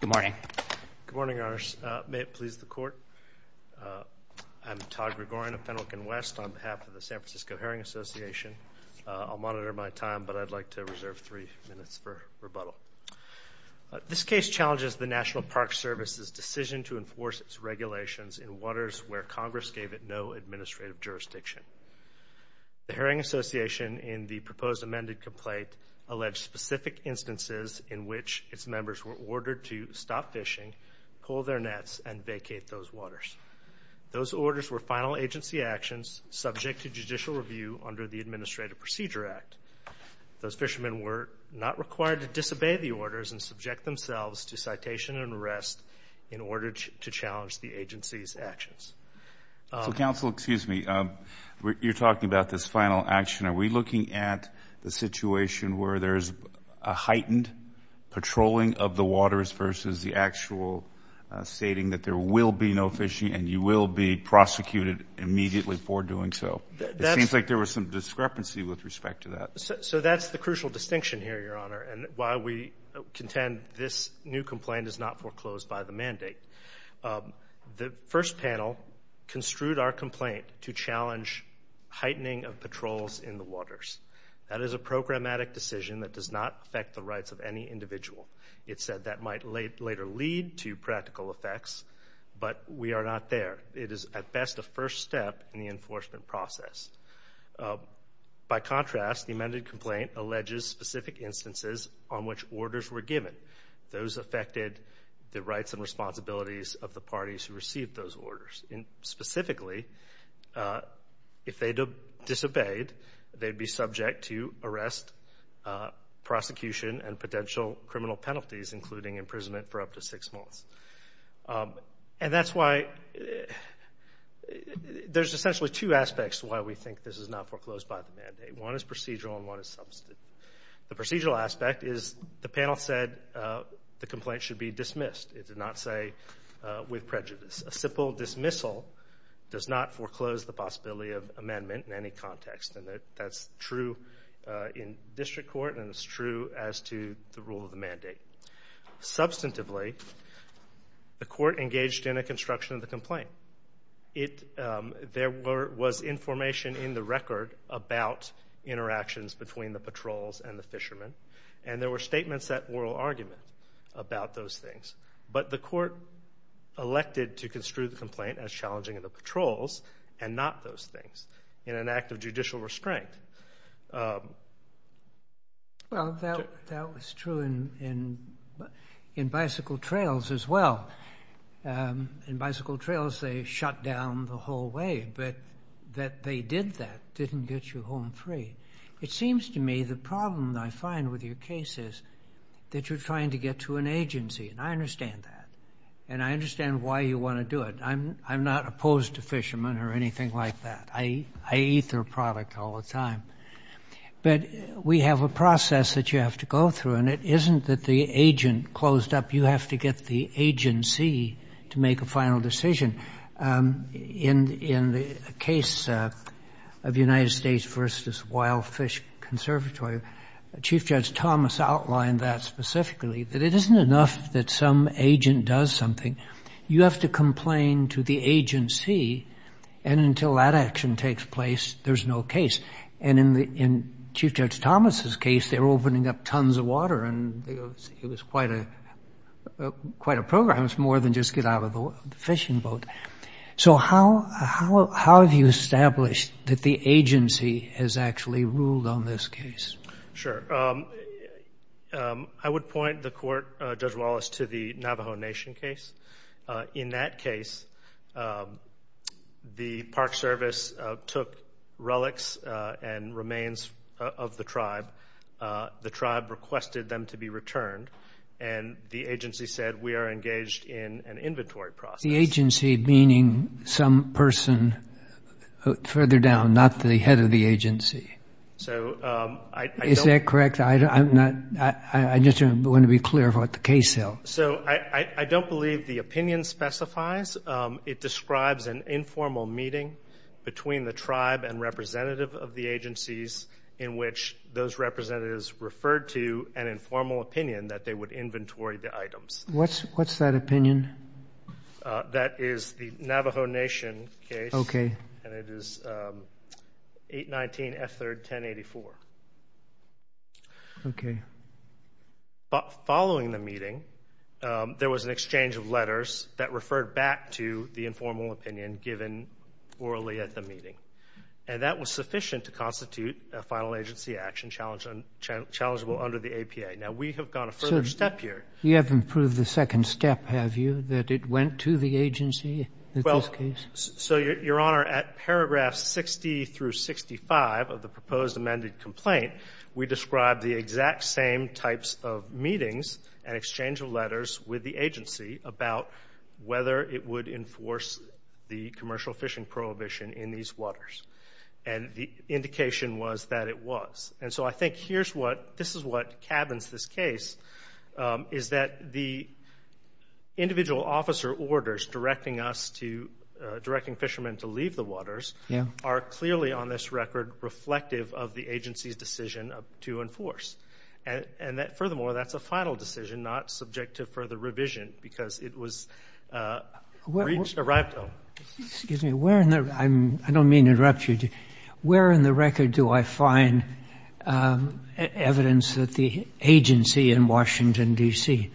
Good morning. Good morning, Your Honors. May it please the Court. I'm Todd Gregorian of Fenwick & West on behalf of the San Francisco Herring Association. I'll monitor my time, but I'd like to reserve three minutes for rebuttal. This case challenges the National Park Service's decision to enforce its regulations in waters where Congress gave it no administrative jurisdiction. The Herring Association, in the proposed amended complaint, alleged specific instances in which its members were ordered to stop fishing, pull their nets, and vacate those waters. Those orders were final agency actions subject to judicial review under the Administrative Procedure Act. Those fishermen were not required to disobey the orders and subject themselves to citation and arrest in order to challenge the agency's actions. So, counsel, excuse me. You're talking about this final action. Are we looking at the situation where there's a heightened patrolling of the waters versus the actual stating that there will be no fishing and you will be prosecuted immediately for doing so? It seems like there was some discrepancy with respect to that. So that's the crucial distinction here, Your Honor, and why we contend this new complaint is not foreclosed by the mandate. The first panel construed our complaint to challenge heightening of patrols in the waters. That is a programmatic decision that does not affect the rights of any individual. It said that might later lead to practical effects, but we are not there. It is, at best, a first step in the enforcement process. By contrast, the amended complaint alleges specific instances on which orders were given. Those affected the rights and responsibilities of the parties who received those orders. Specifically, if they disobeyed, they'd be subject to arrest, prosecution, and potential criminal penalties, including imprisonment for up to six months. And that's why there's essentially two aspects to why we think this is not foreclosed by the mandate. One is procedural and one is substantive. The procedural aspect is the panel said the complaint should be dismissed. It did not say with prejudice. A simple dismissal does not foreclose the possibility of amendment in any context, and that's true in district court and it's true as to the rule of the mandate. Substantively, the court engaged in a construction of the complaint. There was information in the record about interactions between the patrols and the fishermen, and there were statements at oral argument about those things. But the court elected to construe the complaint as challenging of the patrols and not those things in an act of judicial restraint. Well, that was true in bicycle trails as well. In bicycle trails, they shut down the whole way, but that they did that didn't get you home free. It seems to me the problem I find with your case is that you're trying to get to an agency, and I understand that, and I understand why you want to do it. I'm not opposed to fishermen or anything like that. I eat their product all the time. But we have a process that you have to go through, and it isn't that the agent closed up. You have to get the agency to make a final decision. In the case of United States v. Wild Fish Conservatory, Chief Judge Thomas outlined that specifically, that it isn't enough that some agent does something. You have to complain to the agency, and until that action takes place, there's no case. And in Chief Judge Thomas' case, they were opening up tons of water, and it was quite a program. It's more than just get out of the fishing boat. So how have you established that the agency has actually ruled on this case? Sure. I would point the court, Judge Wallace, to the Navajo Nation case. In that case, the Park Service took relics and remains of the tribe. The tribe requested them to be returned, and the agency said, we are engaged in an inventory process. The agency meaning some person further down, not the head of the agency. Is that correct? I just want to be clear of what the case held. So I don't believe the opinion specifies. It describes an informal meeting between the tribe and representative of the agencies in which those representatives referred to an informal opinion that they would inventory the items. What's that opinion? That is the Navajo Nation case. Okay. And it is 819F3-1084. Okay. Following the meeting, there was an exchange of letters that referred back to the informal opinion given orally at the meeting. And that was sufficient to constitute a final agency action challengeable under the APA. Now, we have gone a further step here. You haven't proved the second step, have you, that it went to the agency in this case? Well, so, Your Honor, at paragraphs 60 through 65 of the proposed amended complaint, we described the exact same types of meetings and exchange of letters with the agency about whether it would enforce the commercial fishing prohibition in these waters. And the indication was that it was. And so I think this is what cabins this case, is that the individual officer orders directing fishermen to leave the waters are clearly on this record reflective of the agency's decision to enforce. And furthermore, that's a final decision, not subject to further revision, because it was reached, arrived on. Excuse me. I don't mean to interrupt you. Where in the record do I find evidence that the agency in Washington, D.C.,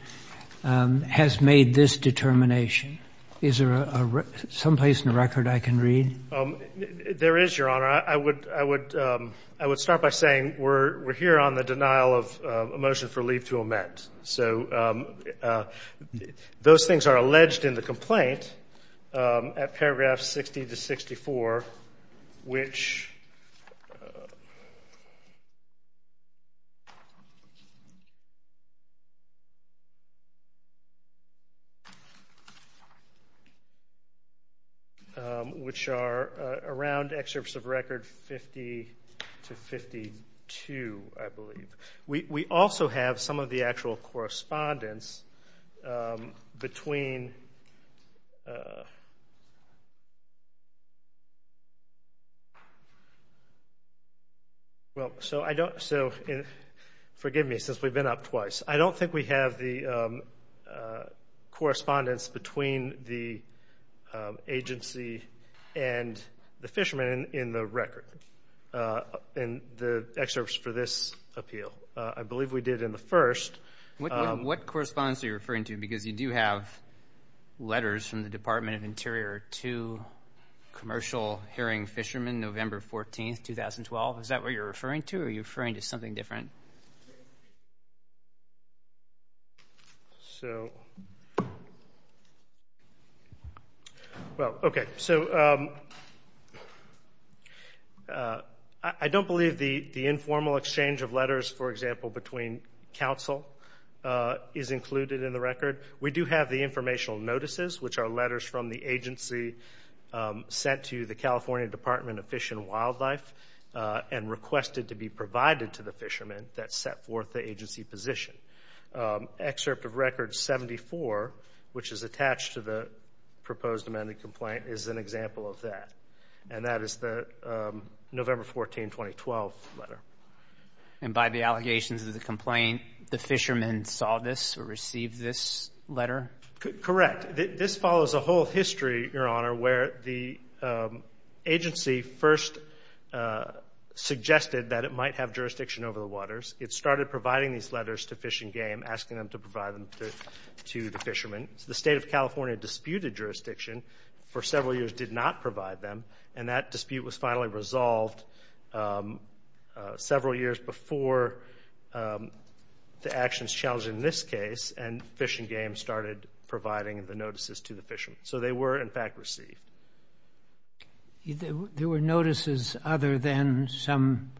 has made this determination? Is there someplace in the record I can read? There is, Your Honor. I would start by saying we're here on the denial of a motion for leave to amend. So those things are alleged in the complaint at paragraphs 60 to 64, which are around excerpts of record 50 to 52, I believe. We also have some of the actual correspondence between the agency and the fishermen in the record, in the excerpts for this appeal. I believe we did in the first. What correspondence are you referring to? Because you do have letters from the Department of Interior to commercial herring fishermen, November 14, 2012. Is that what you're referring to, or are you referring to something different? So, well, okay. So I don't believe the informal exchange of letters, for example, between counsel is included in the record. We do have the informational notices, which are letters from the agency sent to the California Department of Fish and Wildlife and requested to be provided to the fishermen that set forth the agency position. Excerpt of record 74, which is attached to the proposed amended complaint, is an example of that, and that is the November 14, 2012 letter. And by the allegations of the complaint, the fishermen saw this or received this letter? Correct. This follows a whole history, Your Honor, where the agency first suggested that it might have jurisdiction over the waters. It started providing these letters to Fish and Game, asking them to provide them to the fishermen. The State of California disputed jurisdiction for several years, did not provide them, and that dispute was finally resolved several years before the actions challenged in this case, and Fish and Game started providing the notices to the fishermen. So they were, in fact, received. There were notices other than some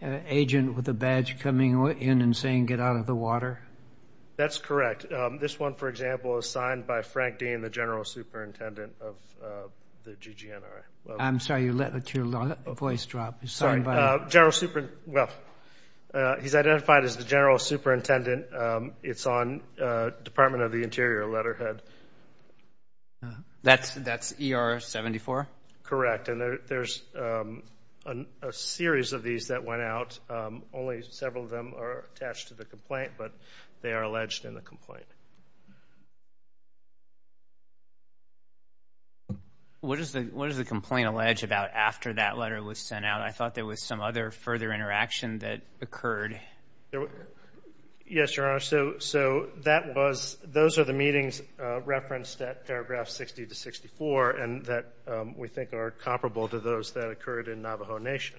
agent with a badge coming in and saying get out of the water? That's correct. This one, for example, is signed by Frank Dean, the general superintendent of the GGNRA. I'm sorry, you let your voice drop. He's identified as the general superintendent. It's on Department of the Interior letterhead. That's ER 74? Correct. And there's a series of these that went out. Only several of them are attached to the complaint, but they are alleged in the complaint. What does the complaint allege about after that letter was sent out? I thought there was some other further interaction that occurred. Yes, Your Honor. So those are the meetings referenced at paragraph 60 to 64, and that we think are comparable to those that occurred in Navajo Nation.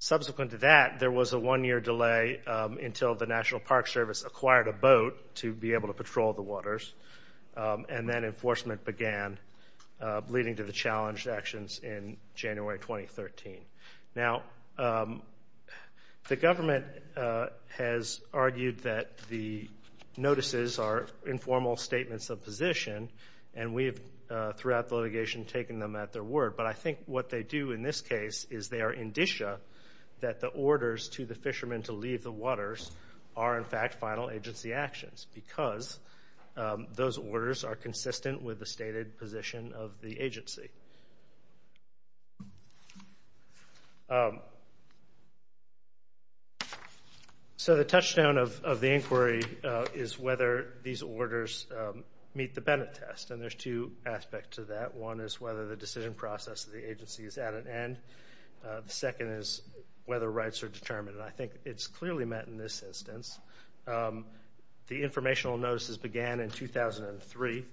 Subsequent to that, there was a one-year delay until the National Park Service acquired a boat to be able to patrol the waters, and then enforcement began leading to the challenged actions in January 2013. Now, the government has argued that the notices are informal statements of position, and we have, throughout the litigation, taken them at their word. But I think what they do in this case is they are indicia that the orders to the fishermen to leave the waters are, in fact, final agency actions because those orders are consistent with the stated position of the agency. So the touchdown of the inquiry is whether these orders meet the Bennett test, and there's two aspects to that. One is whether the decision process of the agency is at an end. The second is whether rights are determined. And I think it's clearly met in this instance. The informational notices began in 2003.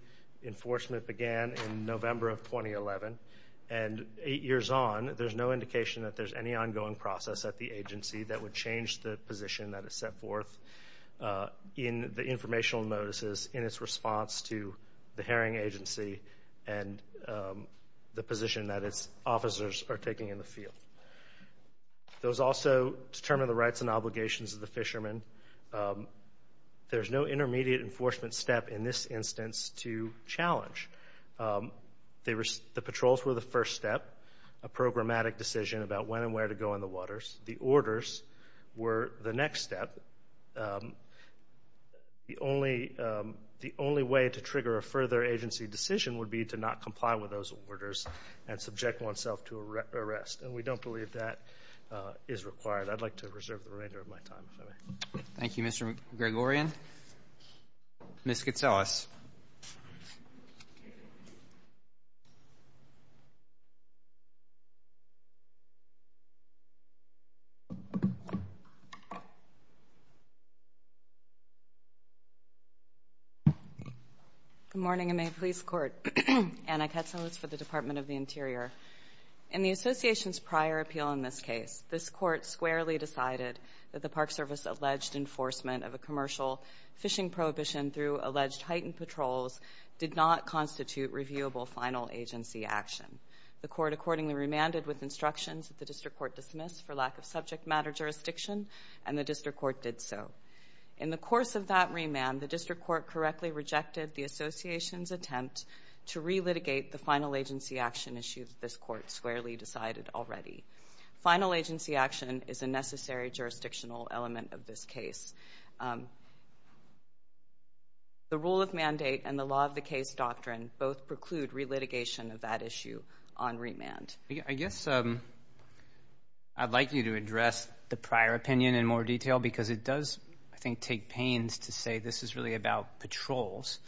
Enforcement began in November of 2011. And eight years on, there's no indication that there's any ongoing process at the agency that would change the position that is set forth in the informational notices in its response to the herring agency and the position that its officers are taking in the field. Those also determine the rights and obligations of the fishermen. There's no intermediate enforcement step in this instance to challenge. The patrols were the first step, a programmatic decision about when and where to go in the waters. The orders were the next step. The only way to trigger a further agency decision would be to not comply with those orders and subject oneself to arrest. And we don't believe that is required. I'd like to reserve the remainder of my time, if I may. Thank you, Mr. Gregorian. Ms. Katselis. Good morning, and may it please the Court. Anna Katselis for the Department of the Interior. In the Association's prior appeal in this case, this Court squarely decided that the Park Service alleged enforcement of a commercial fishing prohibition through alleged heightened patrols did not constitute reviewable final agency action. The Court accordingly remanded with instructions that the District Court dismiss for lack of subject matter jurisdiction, and the District Court did so. In the course of that remand, the District Court correctly rejected the Association's attempt to re-litigate the final agency action issue that this Court squarely decided already. Final agency action is a necessary jurisdictional element of this case. The rule of mandate and the law of the case doctrine both preclude re-litigation of that issue on remand. I guess I'd like you to address the prior opinion in more detail because it does, I think, take pains to say this is really about patrols,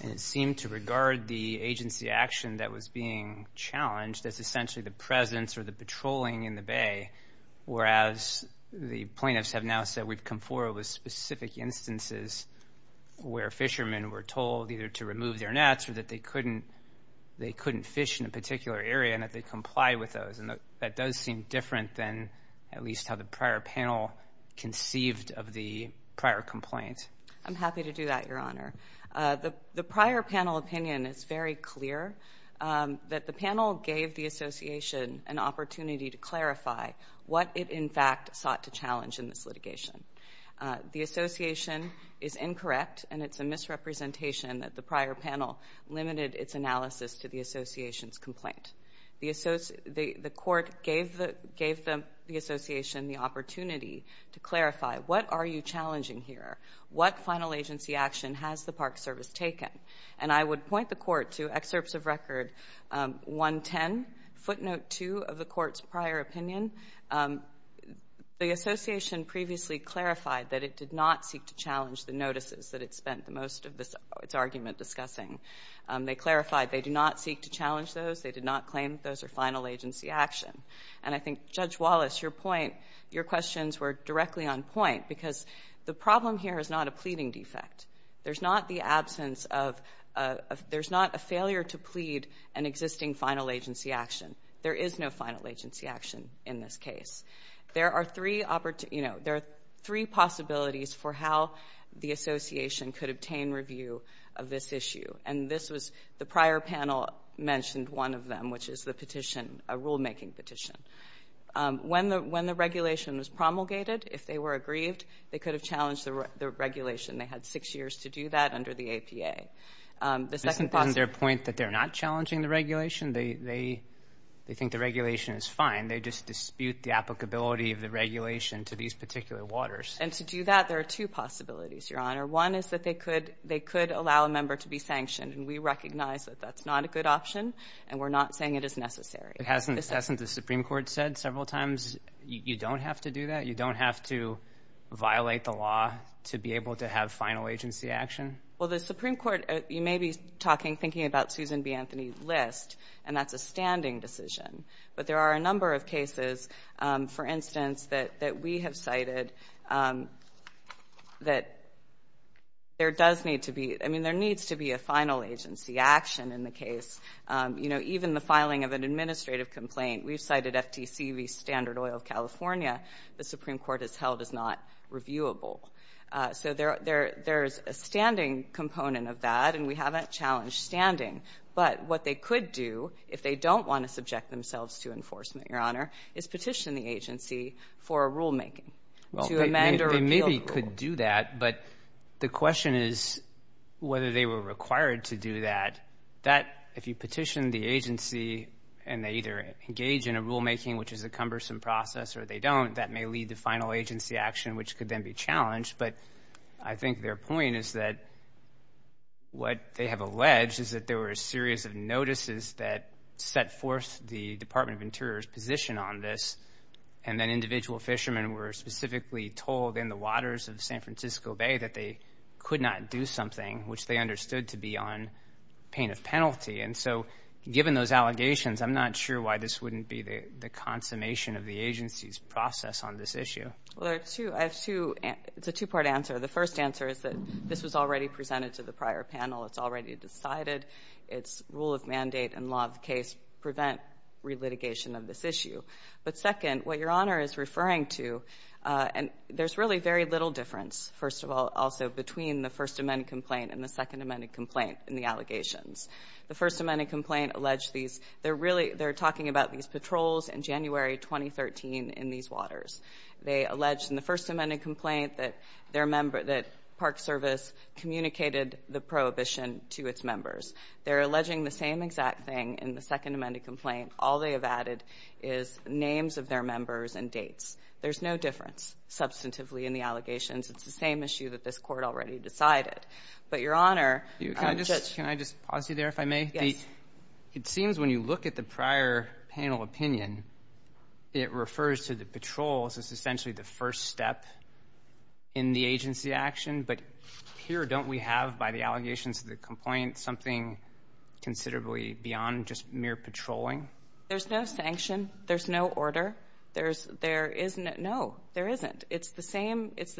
and it seemed to regard the agency action that was being challenged as essentially the presence or the patrolling in the Bay, whereas the plaintiffs have now said we've come forward with specific instances where fishermen were told either to remove their nets or that they couldn't fish in a particular area and that they comply with those. That does seem different than at least how the prior panel conceived of the prior complaint. I'm happy to do that, Your Honor. The prior panel opinion is very clear that the panel gave the Association an opportunity to clarify what it in fact sought to challenge in this litigation. The Association is incorrect, and it's a misrepresentation that the prior panel limited its analysis to the Association's complaint. The Court gave the Association the opportunity to clarify what are you challenging here, what final agency action has the Park Service taken. And I would point the Court to Excerpts of Record 110, footnote 2 of the Court's prior opinion. The Association previously clarified that it did not seek to challenge the notices that it spent most of its argument discussing. They clarified they do not seek to challenge those. They did not claim those are final agency action. And I think, Judge Wallace, your questions were directly on point because the problem here is not a pleading defect. There's not a failure to plead an existing final agency action. There is no final agency action in this case. There are three possibilities for how the Association could obtain review of this issue. And this was the prior panel mentioned one of them, which is the petition, a rulemaking petition. When the regulation was promulgated, if they were aggrieved, they could have challenged the regulation. They had six years to do that under the APA. Isn't there a point that they're not challenging the regulation? They think the regulation is fine. They just dispute the applicability of the regulation to these particular waters. And to do that, there are two possibilities, Your Honor. One is that they could allow a member to be sanctioned, and we recognize that that's not a good option, and we're not saying it is necessary. Hasn't the Supreme Court said several times you don't have to do that, you don't have to violate the law to be able to have final agency action? Well, the Supreme Court, you may be talking, thinking about Susan B. Anthony's list, and that's a standing decision. But there are a number of cases, for instance, that we have cited that there does need to be, I mean, there needs to be a final agency action in the case. You know, even the filing of an administrative complaint. We've cited FTC v. Standard Oil of California. The Supreme Court has held it's not reviewable. So there's a standing component of that, and we haven't challenged standing. But what they could do, if they don't want to subject themselves to enforcement, Your Honor, is petition the agency for a rulemaking to amend or repeal the rule. Well, they maybe could do that, but the question is whether they were required to do that. That, if you petition the agency, and they either engage in a rulemaking, which is a cumbersome process, or they don't, that may lead to final agency action, which could then be challenged. But I think their point is that what they have alleged is that there were a series of notices that set forth the Department of Interior's position on this, and that individual fishermen were specifically told in the waters of San Francisco Bay that they could not do something, which they understood to be on pain of penalty. And so given those allegations, I'm not sure why this wouldn't be the consummation of the agency's process on this issue. Well, there are two. I have two. It's a two-part answer. The first answer is that this was already presented to the prior panel. It's already decided. Its rule of mandate and law of the case prevent relitigation of this issue. But second, what Your Honor is referring to, and there's really very little difference, first of all, also between the First Amendment complaint and the Second Amendment complaint in the allegations. The First Amendment complaint alleged these. They're really talking about these patrols in January 2013 in these waters. They allege in the First Amendment complaint that Park Service communicated the prohibition to its members. They're alleging the same exact thing in the Second Amendment complaint. All they have added is names of their members and dates. There's no difference, substantively, in the allegations. It's the same issue that this Court already decided. But, Your Honor, just ---- Can I just pause you there, if I may? Yes. It seems when you look at the prior panel opinion, it refers to the patrols as essentially the first step in the agency action. But here don't we have, by the allegations of the complaint, something considerably beyond just mere patrolling? There's no sanction. There's no order. There's no ---- No, there isn't. It's the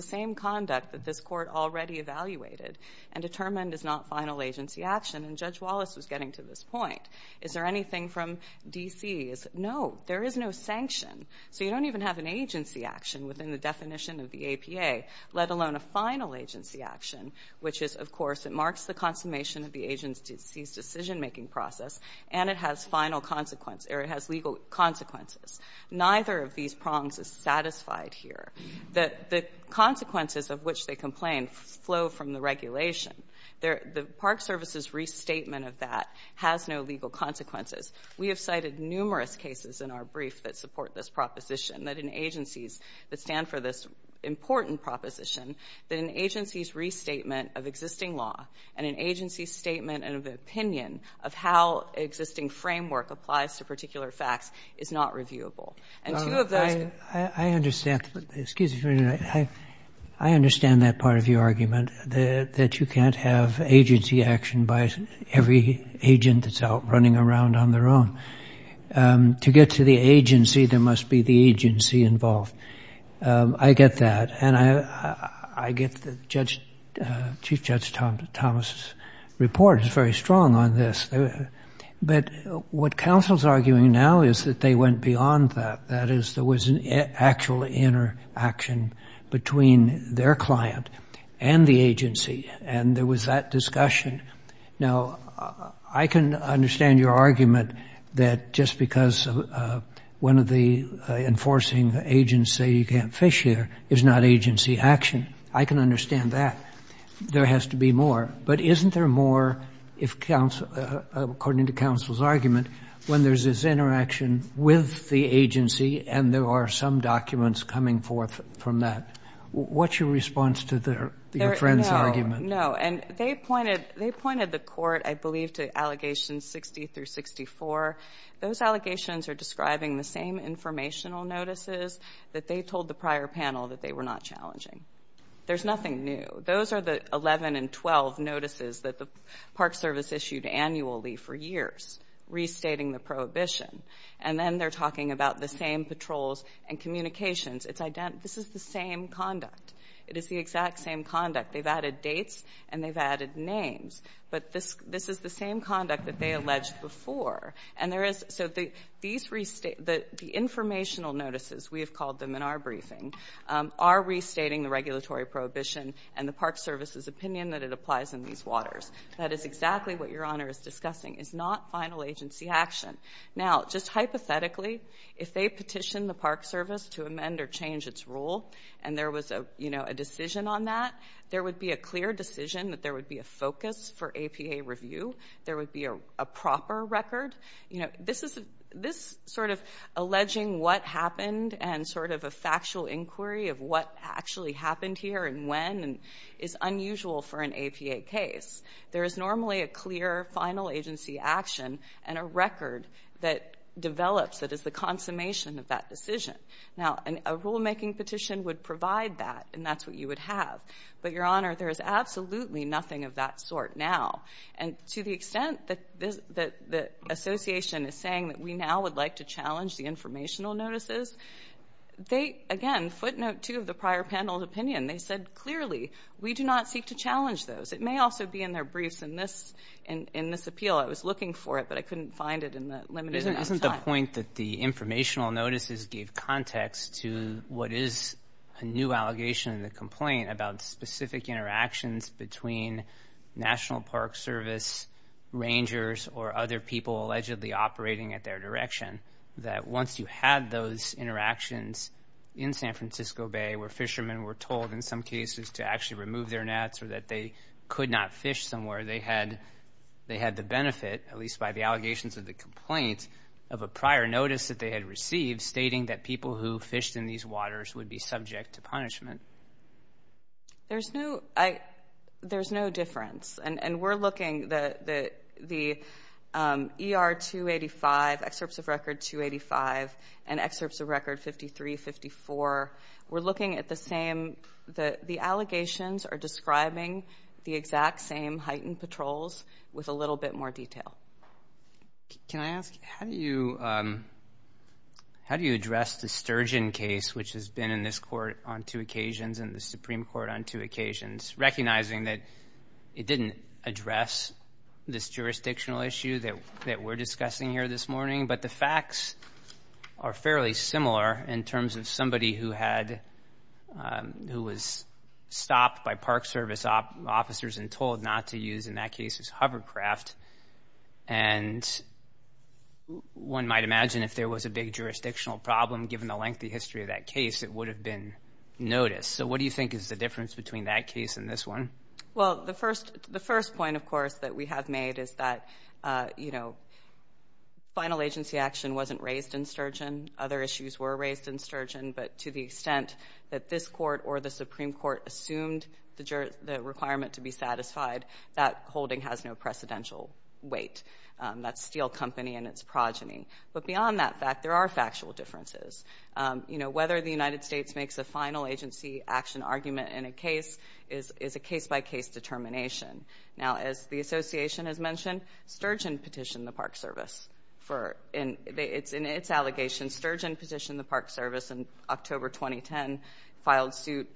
same conduct that this Court already evaluated and determined is not final agency action. And Judge Wallace was getting to this point. Is there anything from D.C. No, there is no sanction. So you don't even have an agency action within the definition of the APA, let alone a final agency action, which is, of course, it marks the consummation of the agency's decision-making process, and it has final consequence, or it has legal consequences. Neither of these prongs is satisfied here. The consequences of which they complain flow from the regulation. The Park Service's restatement of that has no legal consequences. We have cited numerous cases in our brief that support this proposition, that in agencies that stand for this important proposition, that an agency's restatement of existing law and an agency's statement of opinion of how existing framework applies to particular facts is not reviewable. And two of those ---- I understand. Excuse me. I understand that part of your argument, that you can't have agency action by every agent that's out running around on their own. To get to the agency, there must be the agency involved. I get that. And I get that Chief Judge Thomas' report is very strong on this. But what counsel is arguing now is that they went beyond that, that is, there was an actual interaction between their client and the agency, and there was that discussion. Now, I can understand your argument that just because one of the enforcing agents say you can't fish here is not agency action. I can understand that. There has to be more. But isn't there more if counsel ---- according to counsel's argument, when there's this interaction with the agency and there are some documents coming forth from that? What's your response to your friend's argument? No. And they pointed the court, I believe, to allegations 60 through 64. Those allegations are describing the same informational notices that they told the prior panel that they were not challenging. There's nothing new. Those are the 11 and 12 notices that the Park Service issued annually for years. Restating the prohibition. And then they're talking about the same patrols and communications. This is the same conduct. It is the exact same conduct. They've added dates and they've added names. But this is the same conduct that they alleged before. And there is ---- so the informational notices, we have called them in our briefing, are restating the regulatory prohibition and the Park Service's opinion that it applies in these waters. That is exactly what Your Honor is discussing. It's not final agency action. Now, just hypothetically, if they petitioned the Park Service to amend or change its rule and there was a decision on that, there would be a clear decision that there would be a focus for APA review. There would be a proper record. This sort of alleging what happened and sort of a factual inquiry of what actually happened here and when is unusual for an APA case. There is normally a clear final agency action and a record that develops that is the consummation of that decision. Now, a rulemaking petition would provide that, and that's what you would have. But, Your Honor, there is absolutely nothing of that sort now. And to the extent that the association is saying that we now would like to challenge the informational notices, they, again, footnote two of the prior panel's opinion, they said, clearly, we do not seek to challenge those. It may also be in their briefs in this appeal. I was looking for it, but I couldn't find it in the limited amount of time. Isn't the point that the informational notices gave context to what is a new allegation in the complaint about specific interactions between National Park Service rangers or other people allegedly operating at their direction, that once you had those interactions in San Francisco Bay where fishermen were told, in some cases, to actually remove their nets or that they could not fish somewhere, they had the benefit, at least by the allegations of the complaint, of a prior notice that they had received stating that people who fished in these waters would be subject to punishment? There's no difference. And we're looking at the ER 285, Excerpts of Record 285, and Excerpts of Record 5354. We're looking at the same. The allegations are describing the exact same heightened patrols with a little bit more detail. Can I ask, how do you address the Sturgeon case, which has been in this court on two occasions and the Supreme Court on two occasions, recognizing that it didn't address this jurisdictional issue that we're discussing here this morning, but the facts are fairly similar in terms of somebody who was stopped by Park Service officers and told not to use, in that case, his hovercraft. And one might imagine if there was a big jurisdictional problem, given the lengthy history of that case, it would have been noticed. So what do you think is the difference between that case and this one? Well, the first point, of course, that we have made is that, you know, final agency action wasn't raised in Sturgeon. Other issues were raised in Sturgeon, but to the extent that this court or the Supreme Court assumed the requirement to be satisfied, that holding has no precedential weight. That's Steel Company and its progeny. But beyond that fact, there are factual differences. You know, whether the United States makes a final agency action argument in a case is a case-by-case determination. Now, as the Association has mentioned, Sturgeon petitioned the Park Service. In its allegation, Sturgeon petitioned the Park Service in October 2010, filed suit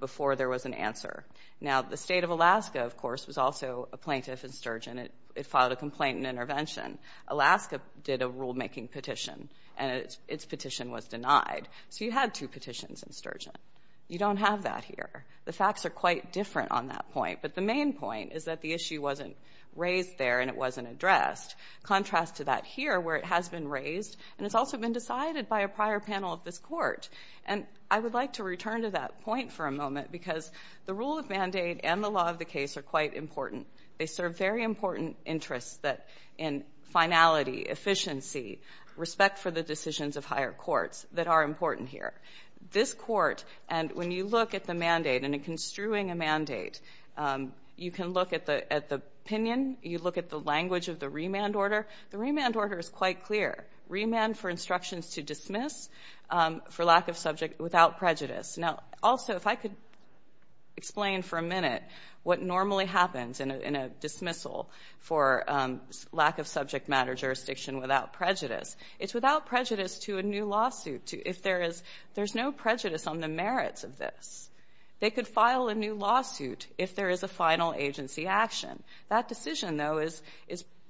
before there was an answer. Now, the state of Alaska, of course, was also a plaintiff in Sturgeon. It filed a complaint and intervention. Alaska did a rulemaking petition, and its petition was denied. So you had two petitions in Sturgeon. You don't have that here. The facts are quite different on that point. But the main point is that the issue wasn't raised there and it wasn't addressed. Contrast to that here where it has been raised, and it's also been decided by a prior panel of this court. And I would like to return to that point for a moment because the rule of mandate and the law of the case are quite important. They serve very important interests in finality, efficiency, respect for the decisions of higher courts that are important here. This court, and when you look at the mandate and in construing a mandate, you can look at the opinion, you look at the language of the remand order. The remand order is quite clear. Remand for instructions to dismiss for lack of subject without prejudice. Now, also, if I could explain for a minute what normally happens in a dismissal for lack of subject matter jurisdiction without prejudice, it's without prejudice to a new lawsuit. If there is no prejudice on the merits of this, they could file a new lawsuit if there is a final agency action. That decision, though, is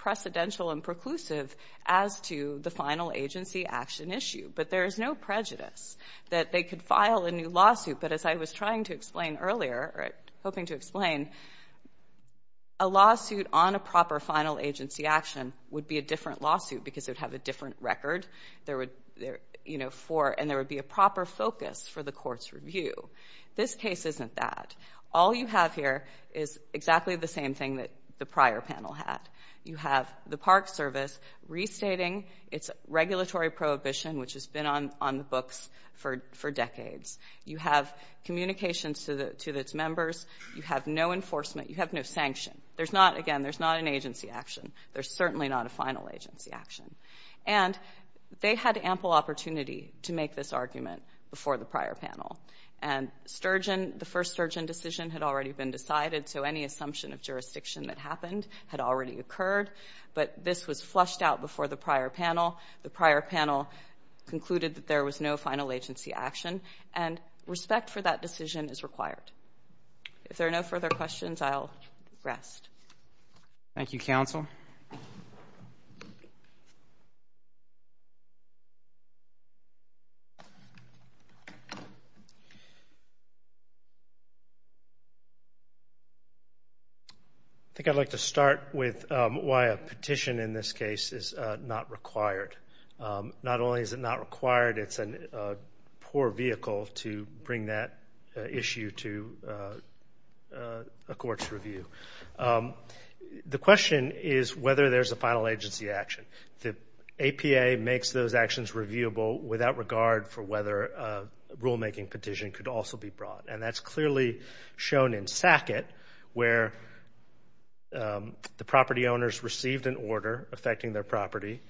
precedential and preclusive as to the final agency action issue. But there is no prejudice that they could file a new lawsuit. But as I was trying to explain earlier, or hoping to explain, a lawsuit on a proper final agency action would be a different lawsuit because it would have a different record. And there would be a proper focus for the court's review. This case isn't that. All you have here is exactly the same thing that the prior panel had. You have the Park Service restating its regulatory prohibition, which has been on the books for decades. You have communications to its members. You have no enforcement. You have no sanction. Again, there's not an agency action. There's certainly not a final agency action. And they had ample opportunity to make this argument before the prior panel. And Sturgeon, the first Sturgeon decision, had already been decided, so any assumption of jurisdiction that happened had already occurred. But this was flushed out before the prior panel. The prior panel concluded that there was no final agency action. And respect for that decision is required. If there are no further questions, I'll rest. Thank you, counsel. I think I'd like to start with why a petition in this case is not required. Not only is it not required, it's a poor vehicle to bring that issue to a court's review. The question is whether there's a final agency action. The APA makes those actions reviewable without regard for whether a rulemaking petition could also be brought. And that's clearly shown in Sackett, where the property owners received an order affecting their property.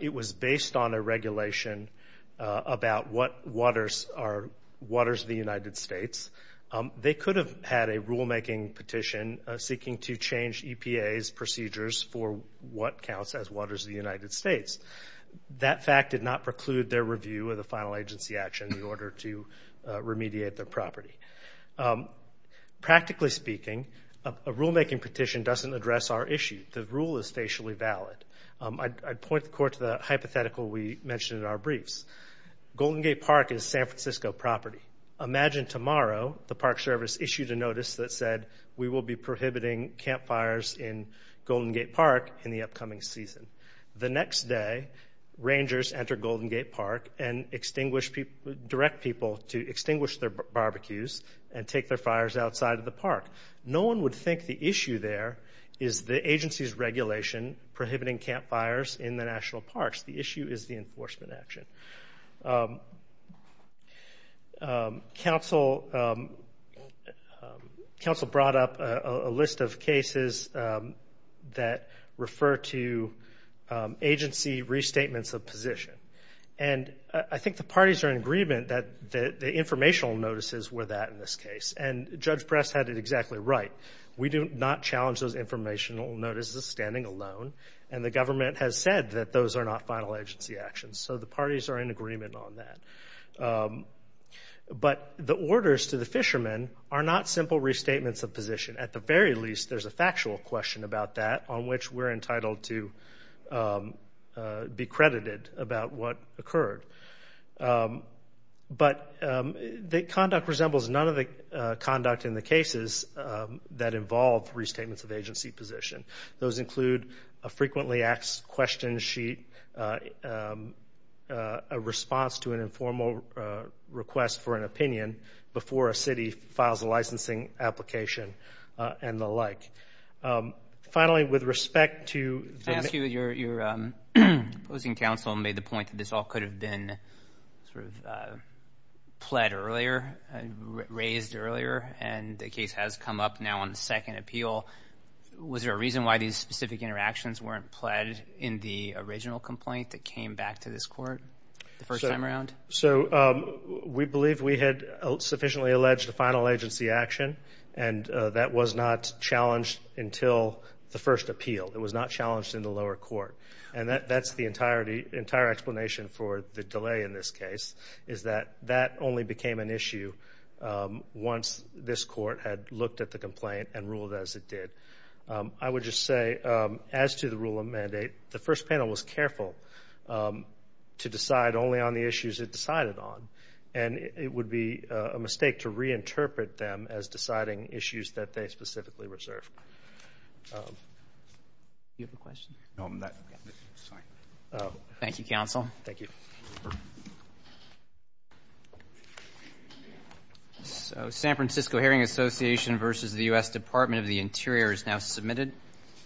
It was based on a regulation about what waters the United States. They could have had a rulemaking petition seeking to change EPA's procedures for what counts as waters of the United States. That fact did not preclude their review of the final agency action in order to remediate their property. Practically speaking, a rulemaking petition doesn't address our issue. The rule is facially valid. I'd point the court to the hypothetical we mentioned in our briefs. Golden Gate Park is San Francisco property. Imagine tomorrow the Park Service issued a notice that said we will be prohibiting campfires in Golden Gate Park in the upcoming season. The next day, rangers enter Golden Gate Park and direct people to extinguish their barbecues and take their fires outside of the park. No one would think the issue there is the agency's regulation prohibiting campfires in the national parks. The issue is the enforcement action. Council brought up a list of cases that refer to agency restatements of position. And I think the parties are in agreement that the informational notices were that in this case. And Judge Press had it exactly right. We do not challenge those informational notices standing alone. And the government has said that those are not final agency actions. So the parties are in agreement on that. But the orders to the fishermen are not simple restatements of position. At the very least, there's a factual question about that on which we're entitled to be credited about what occurred. But the conduct resembles none of the conduct in the cases that involve restatements of agency position. Those include a frequently asked question sheet, a response to an informal request for an opinion before a city files a licensing application, and the like. Finally, with respect to... I ask you, your opposing counsel made the point that this all could have been sort of pled earlier, raised earlier. And the case has come up now on the second appeal. Was there a reason why these specific interactions weren't pled in the original complaint that came back to this court the first time around? So we believe we had sufficiently alleged a final agency action, and that was not challenged until the first appeal. It was not challenged in the lower court. And that's the entire explanation for the delay in this case, is that that only became an issue once this court had looked at the complaint and ruled as it did. I would just say, as to the rule of mandate, the first panel was careful to decide only on the issues it decided on. And it would be a mistake to reinterpret them as deciding issues that they specifically reserved. Do you have a question? No, I'm not. Sorry. Thank you, counsel. Thank you. So San Francisco Hearing Association versus the U.S. Department of the Interior is now submitted.